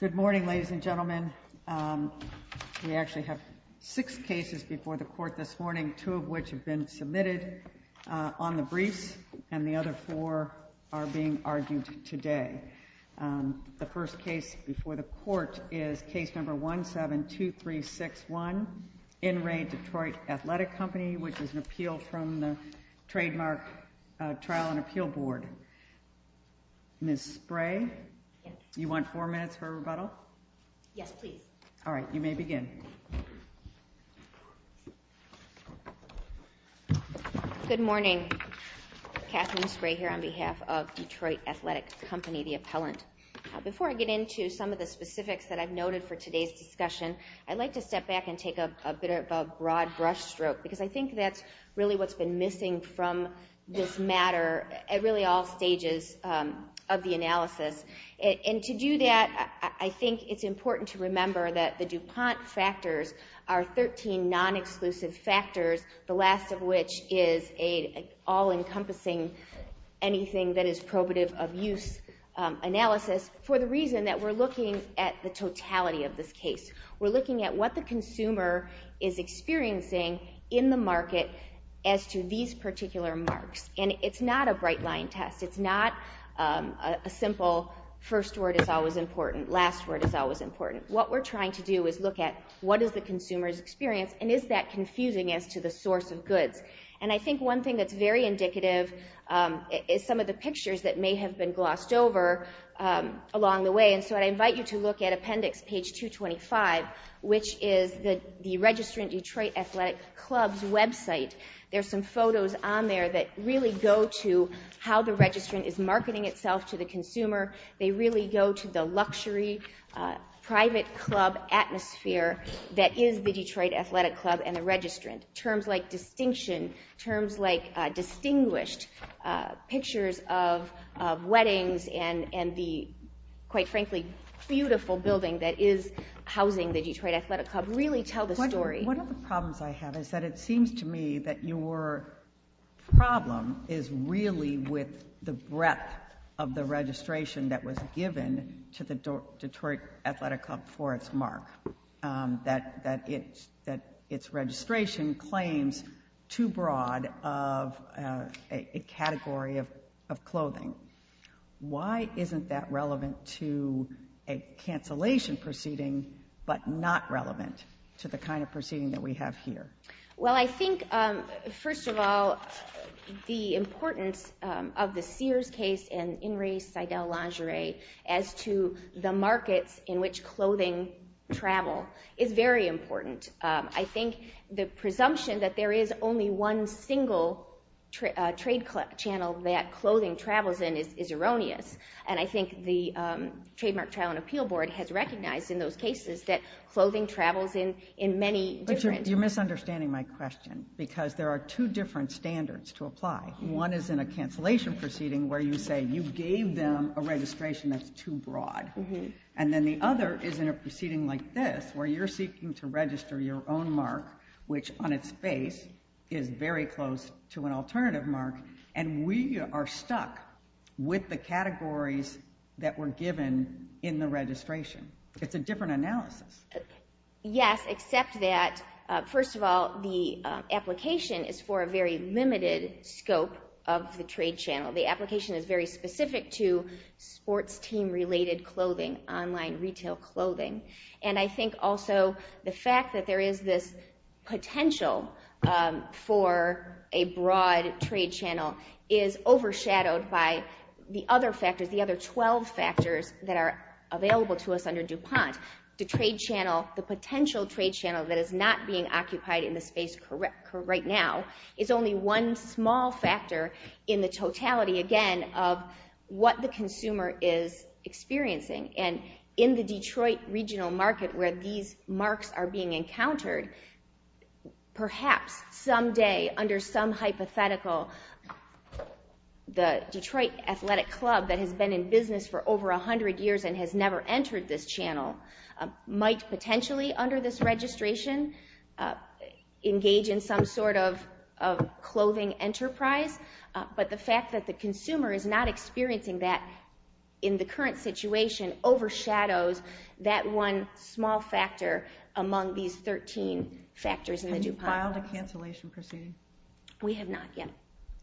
Good morning, ladies and gentlemen. We actually have six cases before the court this morning, two of which have been submitted on the briefs and the other four are being argued today. The first case before the court is case number 172361, In Re Detroit Athletic Company, which is an appeal from the Trademark Trial and Appeal Board. Ms. Spray, you want four minutes for a rebuttal? Yes, please. All right. You may begin. Good morning. Kathleen Spray here on behalf of Detroit Athletic Company, the appellant. Before I get into some of the specifics that I've noted for today's discussion, I'd like to step back and take a bit of a broad brushstroke, because I think that's really what's been missing from this matter at really all stages of the analysis. And to do that, I think it's important to remember that the DuPont factors are 13 non-exclusive factors, the last of which is an all-encompassing anything that is probative of use analysis for the reason that we're looking at the totality of this case. We're looking at what the consumer is experiencing in the market as to these particular marks. And it's not a bright line test. It's not a simple first word is always important, last word is always important. What we're trying to do is look at what is the consumer's experience, and is that confusing as to the source of goods. And I think one thing that's very indicative is some of the pictures that may have been glossed over along the way. And so I invite you to look at appendix page 225, which is the Registrant Detroit Athletic Club's website. There are some photos on there that really go to how the registrant is marketing itself to the consumer. They really go to the luxury private club atmosphere that is the Detroit Athletic Club and the registrant. Terms like distinction, terms like distinguished pictures of weddings and the, quite frankly, beautiful building that is housing the Detroit Athletic Club really tell the story. One of the problems I have is that it seems to me that your problem is really with the breadth of the registration that was given to the Detroit Athletic Club for its mark, that its registration claims too broad of a category of clothing. Why isn't that relevant to a cancellation proceeding, but not relevant to the kind of proceeding that we have here? Well I think, first of all, the importance of the Sears case and Inres Seidel lingerie as to the markets in which clothing travel is very important. I think the presumption that there is only one single trade channel that clothing travels in is erroneous. And I think the Trademark Trial and Appeal Board has recognized in those cases that clothing travels in many different... You're misunderstanding my question because there are two different standards to apply. One is in a cancellation proceeding where you say you gave them a registration that's too broad. And then the other is in a proceeding like this where you're seeking to register your own mark, which on its face is very close to an alternative mark, and we are stuck with the categories that were given in the registration. It's a different analysis. Yes, except that, first of all, the application is for a very limited scope of the trade channel. The application is very specific to sports team related clothing, online retail clothing. And I think also the fact that there is this potential for a broad trade channel is overshadowed by the other factors, the other 12 factors that are available to us under DuPont. The trade channel, the potential trade channel that is not being occupied in the space right now is only one small factor in the totality, again, of what the consumer is experiencing. And in the Detroit regional market where these marks are being encountered, perhaps someday under some hypothetical, the Detroit Athletic Club that has been in business for over 100 years and has never entered this channel might potentially, under this registration, engage in some sort of clothing enterprise, but the fact that the consumer is not experiencing that in the current situation overshadows that one small factor among these 13 factors in the DuPont. Have you filed a cancellation proceeding? We have not yet.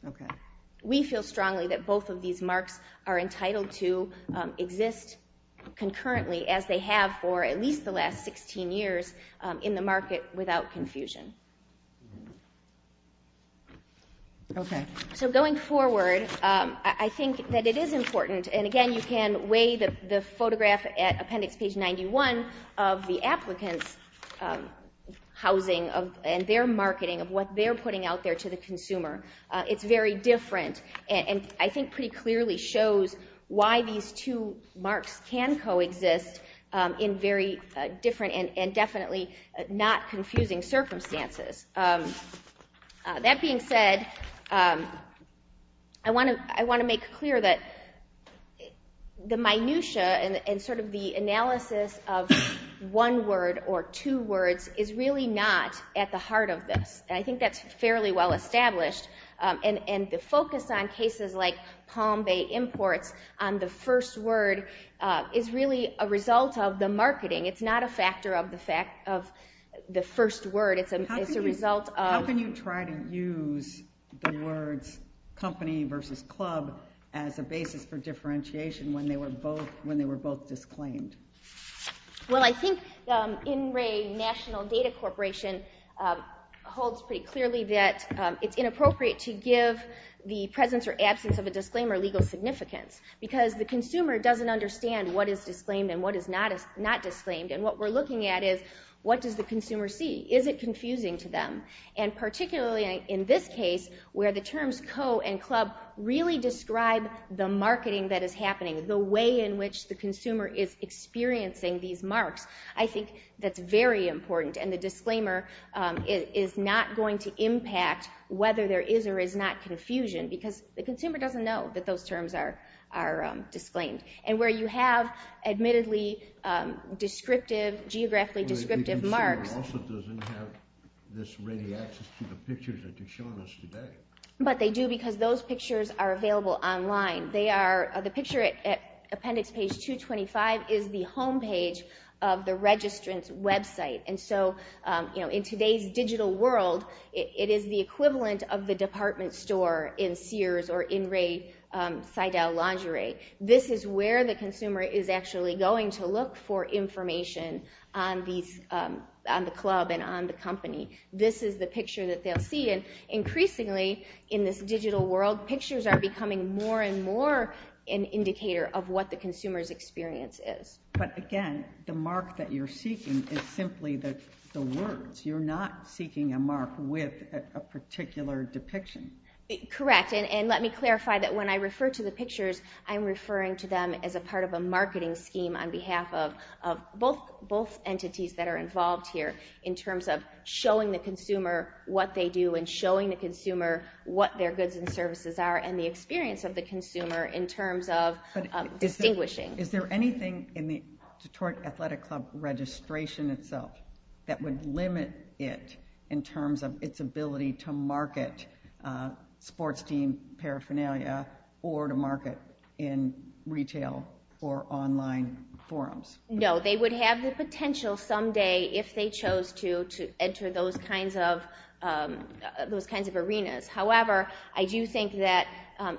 Okay. We feel strongly that both of these marks are entitled to exist concurrently as they have for at least the last 16 years in the market without confusion. Okay. So going forward, I think that it is important, and again, you can weigh the photograph at appendix page 91 of the applicant's housing and their marketing of what they're putting out there to the consumer. It's very different and I think pretty clearly shows why these two marks can coexist in very different and definitely not confusing circumstances. That being said, I want to make clear that the minutiae and sort of the analysis of one word or two words is really not at the heart of this. I think that's fairly well established and the focus on cases like Palm Bay Imports on the first word is really a result of the marketing. It's not a factor of the first word. It's a result of... How can you try to use the words company versus club as a basis for differentiation when they were both disclaimed? Well, I think In Re National Data Corporation holds pretty clearly that it's inappropriate to give the presence or absence of a disclaimer legal significance because the consumer doesn't understand what is disclaimed and what is not disclaimed and what we're looking at is what does the consumer see? Is it confusing to them? And particularly in this case where the terms co and club really describe the marketing that is happening, the way in which the consumer is experiencing these marks, I think that's very important and the disclaimer is not going to impact whether there is or is not confusion because the consumer doesn't know that those terms are disclaimed. And where you have admittedly descriptive, geographically descriptive marks... The consumer also doesn't have this ready access to the pictures that you've shown us today. But they do because those pictures are available online. The picture at appendix page 225 is the homepage of the registrant's website. And so in today's digital world, it is the equivalent of the department store in Sears or in Ray Seidel lingerie. This is where the consumer is actually going to look for information on the club and on the company. This is the picture that they'll see and increasingly in this digital world, pictures are becoming more and more an indicator of what the consumer's experience is. But again, the mark that you're seeking is simply the words. You're not seeking a mark with a particular depiction. Correct. And let me clarify that when I refer to the pictures, I'm referring to them as a part of a marketing scheme on behalf of both entities that are involved here in terms of showing the consumer what they do and showing the consumer what their goods and services are and the experience of the consumer in terms of distinguishing. Is there anything in the Detroit Athletic Club registration itself that would limit it in terms of its ability to market sports team paraphernalia or to market in retail or online forums? No. They would have the potential someday if they chose to enter those kinds of arenas. However, I do think that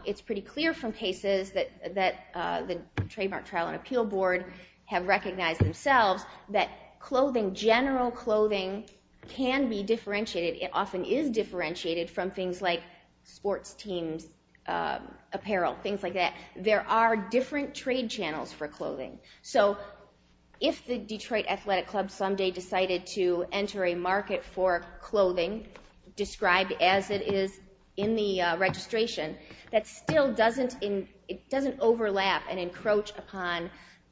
it's pretty clear from cases that the Trademark Trial and Appeal Board have recognized themselves that clothing, general clothing, can be differentiated. It often is differentiated from things like sports teams' apparel, things like that. There are different trade channels for clothing. So if the Detroit Athletic Club someday decided to enter a market for clothing described as it is in the registration, that still doesn't overlap and encroach upon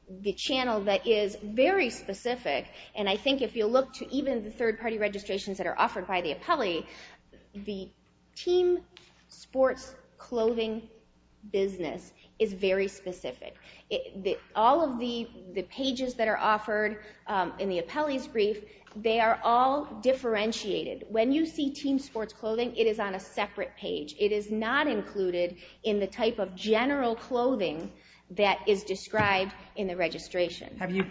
the channel that is very specific. And I think if you look to even the third-party registrations that are offered by the appellee, the team sports clothing business is very specific. All of the pages that are offered in the appellee's brief, they are all differentiated. When you see team sports clothing, it is on a separate page. It is not included in the type of general clothing that is described in the registration. Have you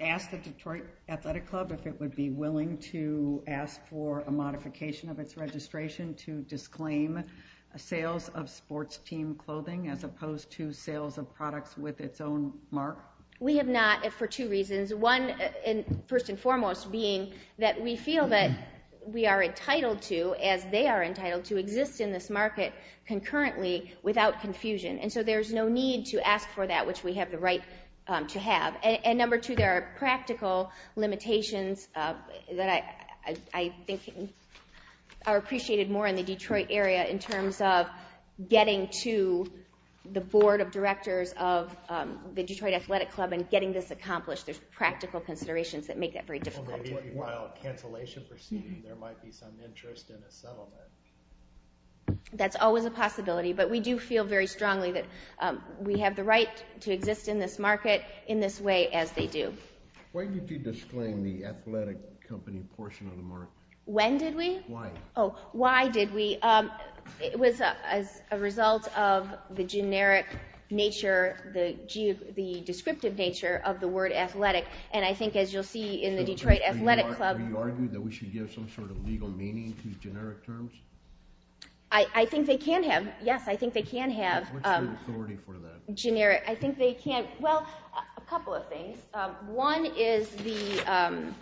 asked the Detroit Athletic Club if it would be willing to ask for a modification of its registration to disclaim sales of sports team clothing as opposed to sales of products with its own mark? We have not for two reasons. One, first and foremost, being that we feel that we are entitled to, as they are entitled to, exist in this market concurrently without confusion. And so there is no need to ask for that, which we have the right to have. And number two, there are practical limitations that I think are appreciated more in the Detroit area in terms of getting to the board of directors of the Detroit Athletic Club and getting this accomplished. There are practical considerations that make that very difficult. Maybe while cancellation proceeding, there might be some interest in a settlement. That's always a possibility, but we do feel very strongly that we have the right to exist in this market in this way as they do. Why did you disclaim the athletic company portion of the mark? When did we? Why? Oh, why did we? Well, it was a result of the generic nature, the descriptive nature of the word athletic. And I think, as you'll see in the Detroit Athletic Club- Were you arguing that we should give some sort of legal meaning to generic terms? I think they can have. Yes, I think they can have. What's the authority for that? Generic. I think they can. Well, a couple of things. One is the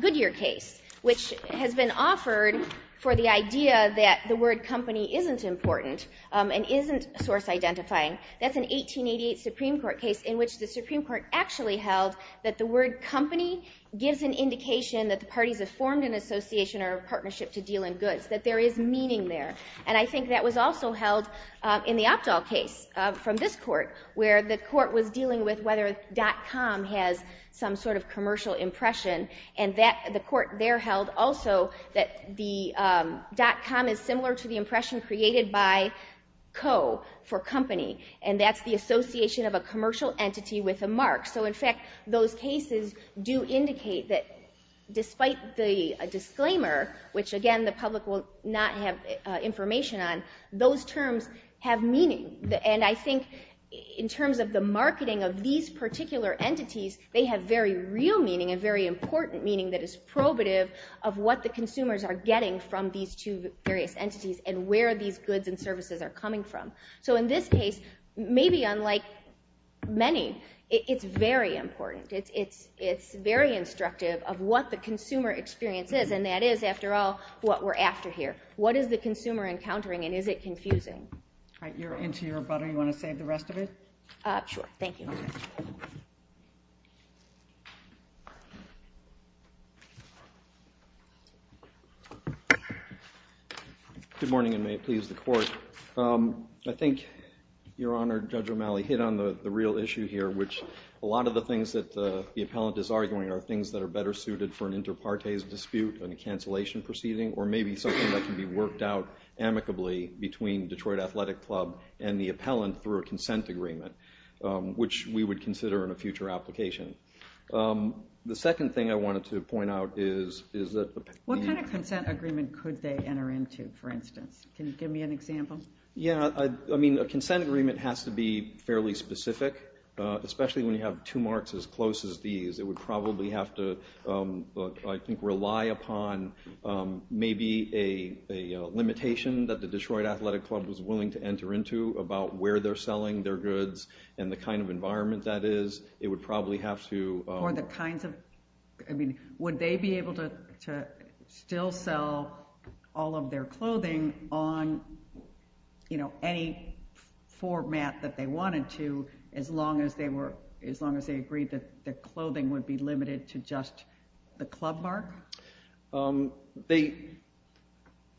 Goodyear case, which has been offered for the idea that the word company isn't important and isn't source-identifying. That's an 1888 Supreme Court case in which the Supreme Court actually held that the word company gives an indication that the parties have formed an association or a partnership to deal in goods, that there is meaning there. And I think that was also held in the Opdahl case from this court, where the court was saying that .com has some sort of commercial impression. And the court there held also that the .com is similar to the impression created by Co. for company. And that's the association of a commercial entity with a mark. So in fact, those cases do indicate that despite the disclaimer, which again the public will not have information on, those terms have meaning. And I think in terms of the marketing of these particular entities, they have very real meaning and very important meaning that is probative of what the consumers are getting from these two various entities and where these goods and services are coming from. So in this case, maybe unlike many, it's very important. It's very instructive of what the consumer experience is, and that is, after all, what we're after here. What is the consumer encountering, and is it confusing? All right. You're into your butter. You want to save the rest of it? Sure. Thank you. Good morning, and may it please the Court. I think, Your Honor, Judge O'Malley hit on the real issue here, which a lot of the things that the appellant is arguing are things that are better suited for an inter partes dispute and a cancellation proceeding, or maybe something that can be worked out amicably between Detroit Athletic Club and the appellant through a consent agreement, which we would consider in a future application. The second thing I wanted to point out is that the... What kind of consent agreement could they enter into, for instance? Can you give me an example? Yeah. I mean, a consent agreement has to be fairly specific, especially when you have two marks as close as these. It would probably have to, I think, rely upon maybe a limitation that the Detroit Athletic Club was willing to enter into about where they're selling their goods and the kind of environment that is. It would probably have to... Or the kinds of... I mean, would they be able to still sell all of their clothing on any format that they would be limited to just the club mark?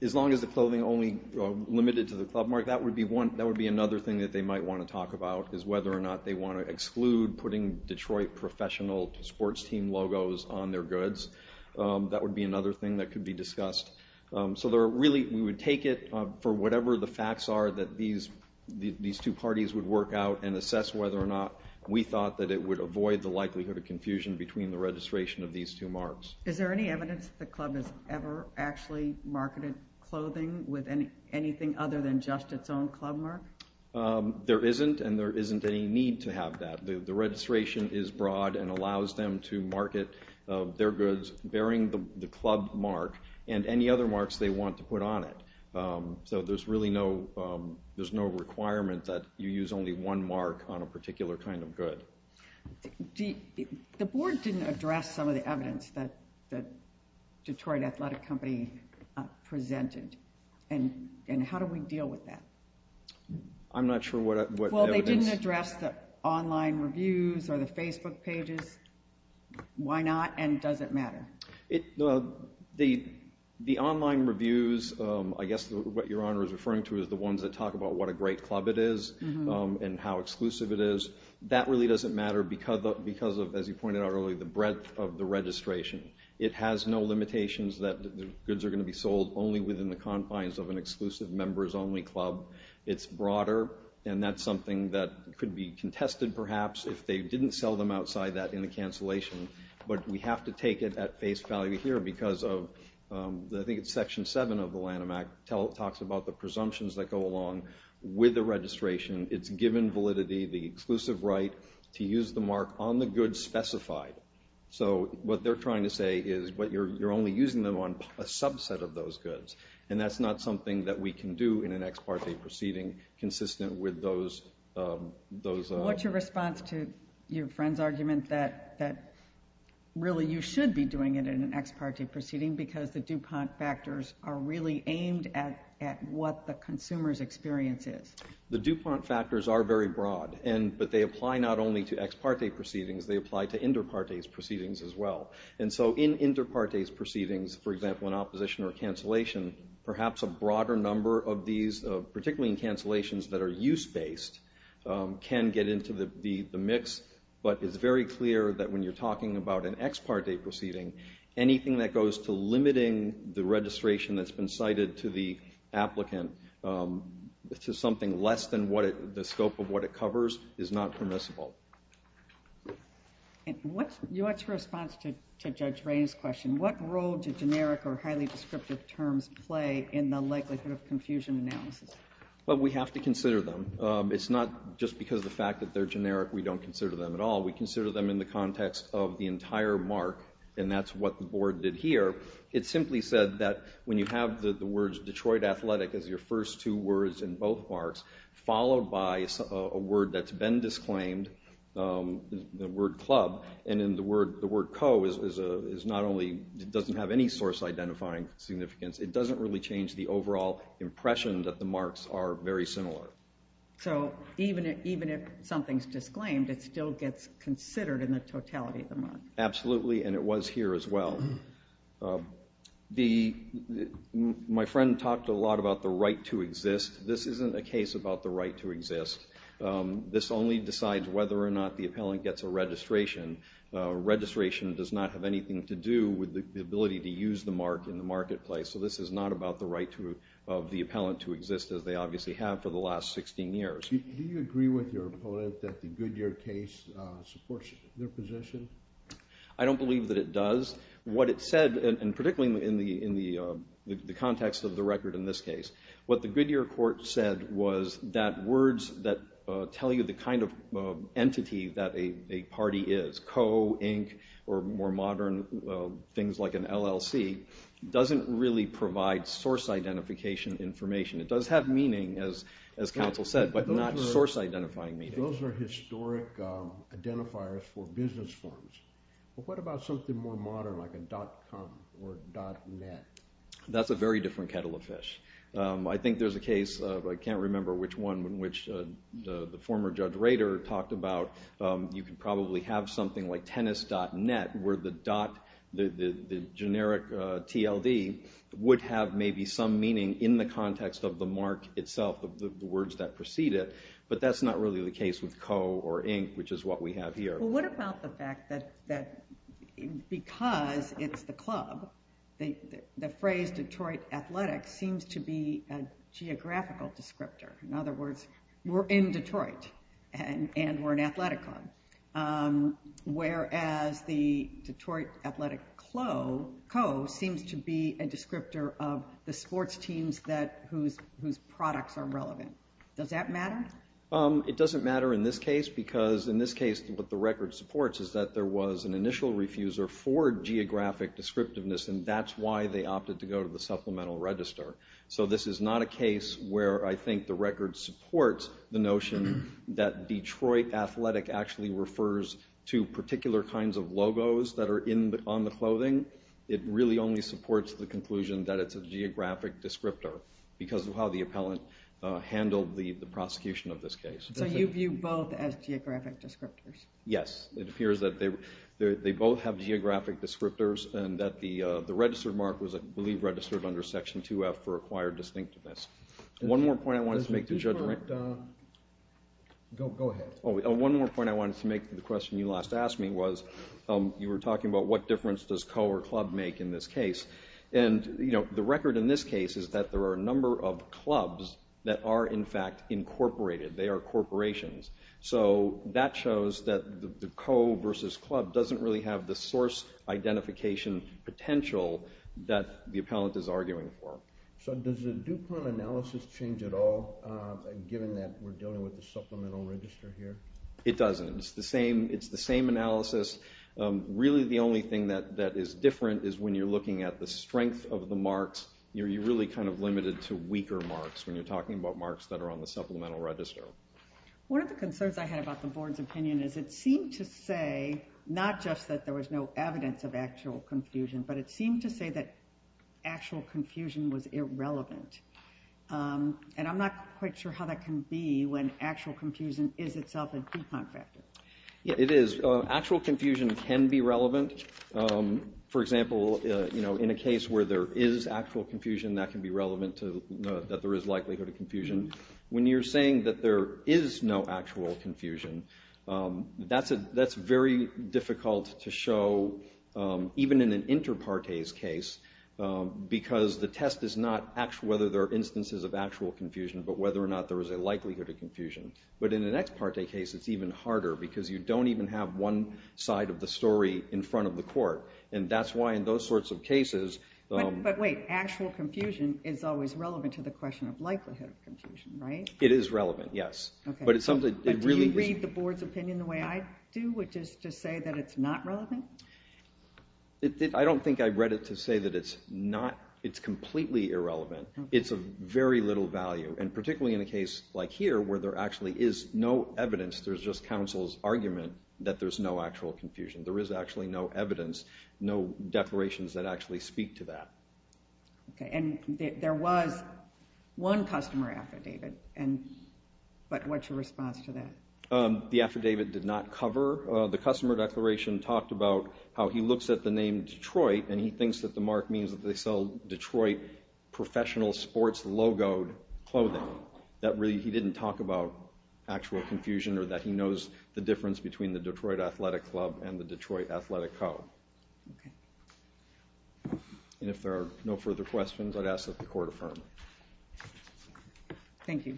As long as the clothing only limited to the club mark, that would be another thing that they might want to talk about, is whether or not they want to exclude putting Detroit professional sports team logos on their goods. That would be another thing that could be discussed. So there are really... We would take it for whatever the facts are that these two parties would work out and confusion between the registration of these two marks. Is there any evidence that the club has ever actually marketed clothing with anything other than just its own club mark? There isn't, and there isn't any need to have that. The registration is broad and allows them to market their goods bearing the club mark and any other marks they want to put on it. So there's really no requirement that you use only one mark on a particular kind of The board didn't address some of the evidence that Detroit Athletic Company presented, and how do we deal with that? I'm not sure what evidence... Well, they didn't address the online reviews or the Facebook pages. Why not, and does it matter? The online reviews, I guess what Your Honor is referring to is the ones that talk about what a great club it is and how exclusive it is. That really doesn't matter because of, as you pointed out earlier, the breadth of the registration. It has no limitations that the goods are going to be sold only within the confines of an exclusive members-only club. It's broader, and that's something that could be contested, perhaps, if they didn't sell them outside that in the cancellation. But we have to take it at face value here because of, I think it's section seven of the Lanham Act, talks about the presumptions that go along with the registration. It's given validity, the exclusive right to use the mark on the goods specified. So what they're trying to say is, but you're only using them on a subset of those goods, and that's not something that we can do in an ex parte proceeding consistent with those... What's your response to your friend's argument that really you should be doing it in an ex parte proceeding because the DuPont factors are really aimed at what the consumer's experience is? The DuPont factors are very broad, but they apply not only to ex parte proceedings, they apply to inter partes proceedings as well. And so in inter partes proceedings, for example, in opposition or cancellation, perhaps a broader number of these, particularly in cancellations that are use-based, can get into the mix. But it's very clear that when you're talking about an ex parte proceeding, anything that is less than the scope of what it covers is not permissible. Your response to Judge Rainey's question, what role do generic or highly descriptive terms play in the likelihood of confusion analysis? We have to consider them. It's not just because of the fact that they're generic, we don't consider them at all. We consider them in the context of the entire mark, and that's what the board did here. It simply said that when you have the words Detroit Athletic as your first two words in both marks, followed by a word that's been disclaimed, the word club, and then the word co doesn't have any source identifying significance, it doesn't really change the overall impression that the marks are very similar. So even if something's disclaimed, it still gets considered in the totality of the mark? Absolutely, and it was here as well. My friend talked a lot about the right to exist. This isn't a case about the right to exist. This only decides whether or not the appellant gets a registration. Registration does not have anything to do with the ability to use the mark in the marketplace, so this is not about the right of the appellant to exist, as they obviously have for the last 16 years. Do you agree with your opponent that the Goodyear case supports their position? I don't believe that it does. What it said, and particularly in the context of the record in this case, what the Goodyear court said was that words that tell you the kind of entity that a party is, co, inc, or more modern things like an LLC, doesn't really provide source identification information. It does have meaning, as counsel said, but not source identifying meaning. Those are historic identifiers for business forms. What about something more modern, like a .com or .net? That's a very different kettle of fish. I think there's a case, but I can't remember which one, in which the former Judge Rader talked about, you could probably have something like tennis.net, where the dot, the generic TLD, would have maybe some meaning in the context of the mark itself, of the words that precede it, but that's not really the case with co or inc, which is what we have here. Well, what about the fact that because it's the club, the phrase Detroit Athletics seems to be a geographical descriptor. In other words, we're in Detroit, and we're an athletic club. Whereas the Detroit Athletic co seems to be a descriptor of the sports teams whose products are relevant. Does that matter? It doesn't matter in this case, because in this case, what the record supports is that there was an initial refuser for geographic descriptiveness, and that's why they opted to go to the supplemental register. So this is not a case where I think the record supports the notion that Detroit Athletic actually refers to particular kinds of logos that are on the clothing. It really only supports the conclusion that it's a geographic descriptor, because of how the appellant handled the prosecution of this case. So you view both as geographic descriptors? Yes. It appears that they both have geographic descriptors, and that the registered mark was, I believe, registered under Section 2F for acquired distinctiveness. One more point I wanted to make to Judge Rankin. One more point I wanted to make to the question you last asked me was, you were talking about what difference does co or club make in this case. And the record in this case is that there are a number of clubs that are, in fact, incorporated. They are corporations. So that shows that the co versus club doesn't really have the source identification potential that the appellant is arguing for. So does the DuPont analysis change at all, given that we're dealing with the supplemental register here? It doesn't. It's the same analysis. Really, the only thing that is different is when you're looking at the strength of the marks, you're really kind of limited to weaker marks when you're talking about marks that are on the supplemental register. One of the concerns I had about the board's opinion is it seemed to say not just that there was no evidence of actual confusion, but it seemed to say that actual confusion was irrelevant. And I'm not quite sure how that can be when actual confusion is itself a DuPont factor. It is. Actual confusion can be relevant. For example, in a case where there is actual confusion, that can be relevant to that there is likelihood of confusion. When you're saying that there is no actual confusion, that's very difficult to show even in an inter partes case, because the test is not whether there are instances of actual confusion, but whether or not there is a likelihood of confusion. But in an ex parte case, it's even harder, because you don't even have one side of the story in front of the court. And that's why in those sorts of cases... But wait, actual confusion is always relevant to the question of likelihood of confusion, right? It is relevant, yes. But it's something that really... But do you read the board's opinion the way I do, which is to say that it's not relevant? I don't think I read it to say that it's completely irrelevant. It's of very little value. And particularly in a case like here, where there actually is no evidence, there's just counsel's argument that there's no actual confusion. There is actually no evidence, no declarations that actually speak to that. Okay. And there was one customer affidavit, but what's your response to that? The affidavit did not cover... The customer declaration talked about how he looks at the name Detroit, and he thinks that the mark means that they sell Detroit professional sports logoed clothing. That really, he didn't talk about actual confusion, or that he knows the difference between the Detroit Athletic Club and the Detroit Athletic Co. Okay. And if there are no further questions, I'd ask that the court affirm. Thank you.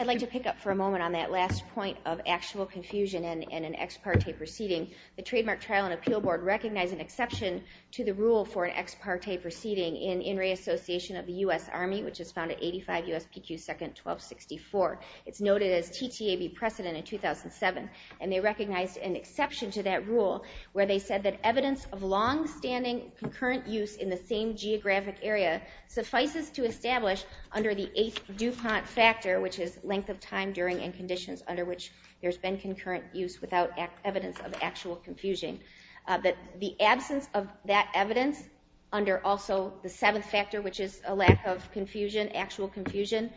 I'd like to pick up for a moment on that last point of actual confusion in an ex parte proceeding. The Trademark Trial and Appeal Board recognized an exception to the rule for an ex parte proceeding in In Re Association of the U.S. Army, which is found at 85 USPQ 2nd 1264. It's noted as TTAB precedent in 2007, and they recognized an exception to that rule where they said that evidence of longstanding concurrent use in the same geographic area suffices to establish under the eighth DuPont factor, which is length of time during and conditions under which there's been concurrent use without evidence of actual confusion. The absence of that evidence under also the seventh factor, which is a lack of confusion, actual confusion,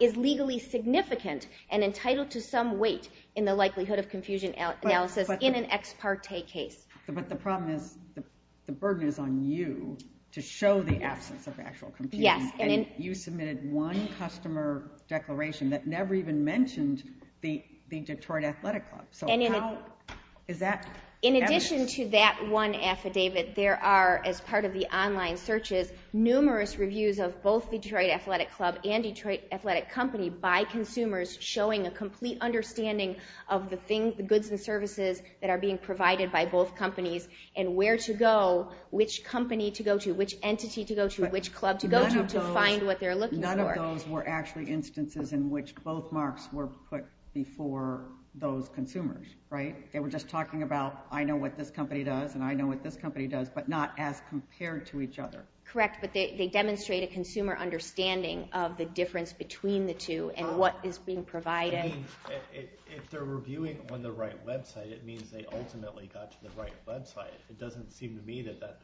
is legally significant and entitled to some weight in the likelihood of confusion analysis in an ex parte case. But the problem is the burden is on you to show the absence of actual confusion. Yes. And you submitted one customer declaration that never even mentioned the Detroit Athletic Club. So how is that evidence? In addition to that one affidavit, there are, as part of the online searches, numerous reviews of both Detroit Athletic Club and Detroit Athletic Company by consumers showing a complete understanding of the goods and services that are being provided by both companies and where to go, which company to go to, which entity to go to, which club to go to, to find what they're looking for. None of those were actually instances in which both marks were put before those consumers, right? They were just talking about, I know what this company does, and I know what this company does, but not as compared to each other. Correct. But they demonstrate a consumer understanding of the difference between the two and what is being provided. I mean, if they're reviewing on the right website, it means they ultimately got to the right website. It doesn't seem to me that that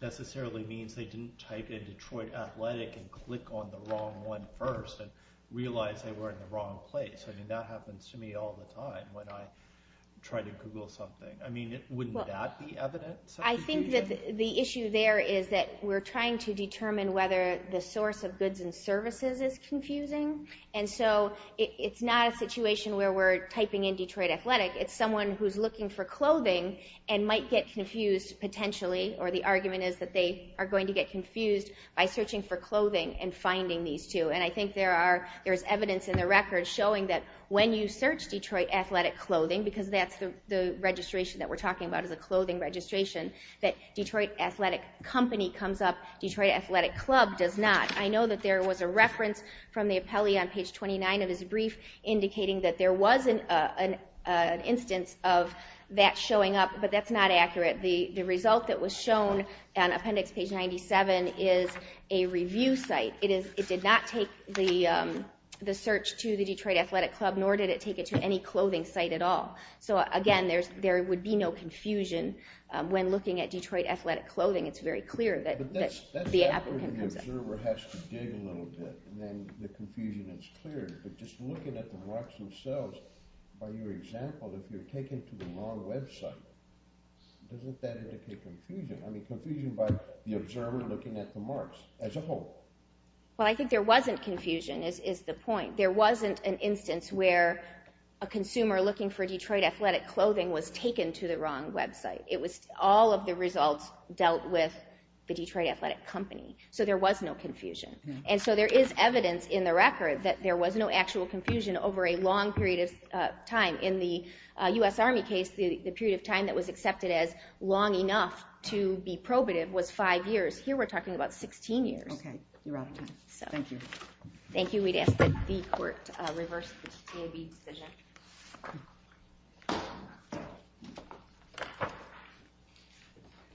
necessarily means they didn't type in Detroit Athletic and click on the wrong one first and realize they were in the wrong place. I mean, that happens to me all the time when I try to Google something. I mean, wouldn't that be evidence? I think that the issue there is that we're trying to determine whether the source of goods and services is confusing. And so it's not a situation where we're typing in Detroit Athletic. It's someone who's looking for clothing and might get confused potentially, or the argument is that they are going to get confused by searching for clothing and finding these two. And I think there's evidence in the record showing that when you search Detroit Athletic Clothing, because that's the registration that we're talking about is a clothing registration, that Detroit Athletic Company comes up, Detroit Athletic Club does not. I know that there was a reference from the appellee on page 29 of his brief indicating that there was an instance of that showing up, but that's not accurate. The result that was shown on appendix page 97 is a review site. It did not take the search to the Detroit Athletic Club, nor did it take it to any clothing site at all. So again, there would be no confusion when looking at Detroit Athletic Clothing. It's very clear that the applicant comes up. The observer has to dig a little bit, and then the confusion is cleared. But just looking at the marks themselves, by your example, if you're taken to the wrong website, doesn't that indicate confusion? I mean, confusion by the observer looking at the marks as a whole. Well, I think there wasn't confusion, is the point. There wasn't an instance where a consumer looking for Detroit Athletic Clothing was taken to the wrong website. All of the results dealt with the Detroit Athletic Company. So there was no confusion. And so there is evidence in the record that there was no actual confusion over a long period of time. In the U.S. Army case, the period of time that was accepted as long enough to be probative was five years. Here we're talking about 16 years. Okay. You're out of time. Thank you. Thank you. We'd ask that the court reverse the TAB decision.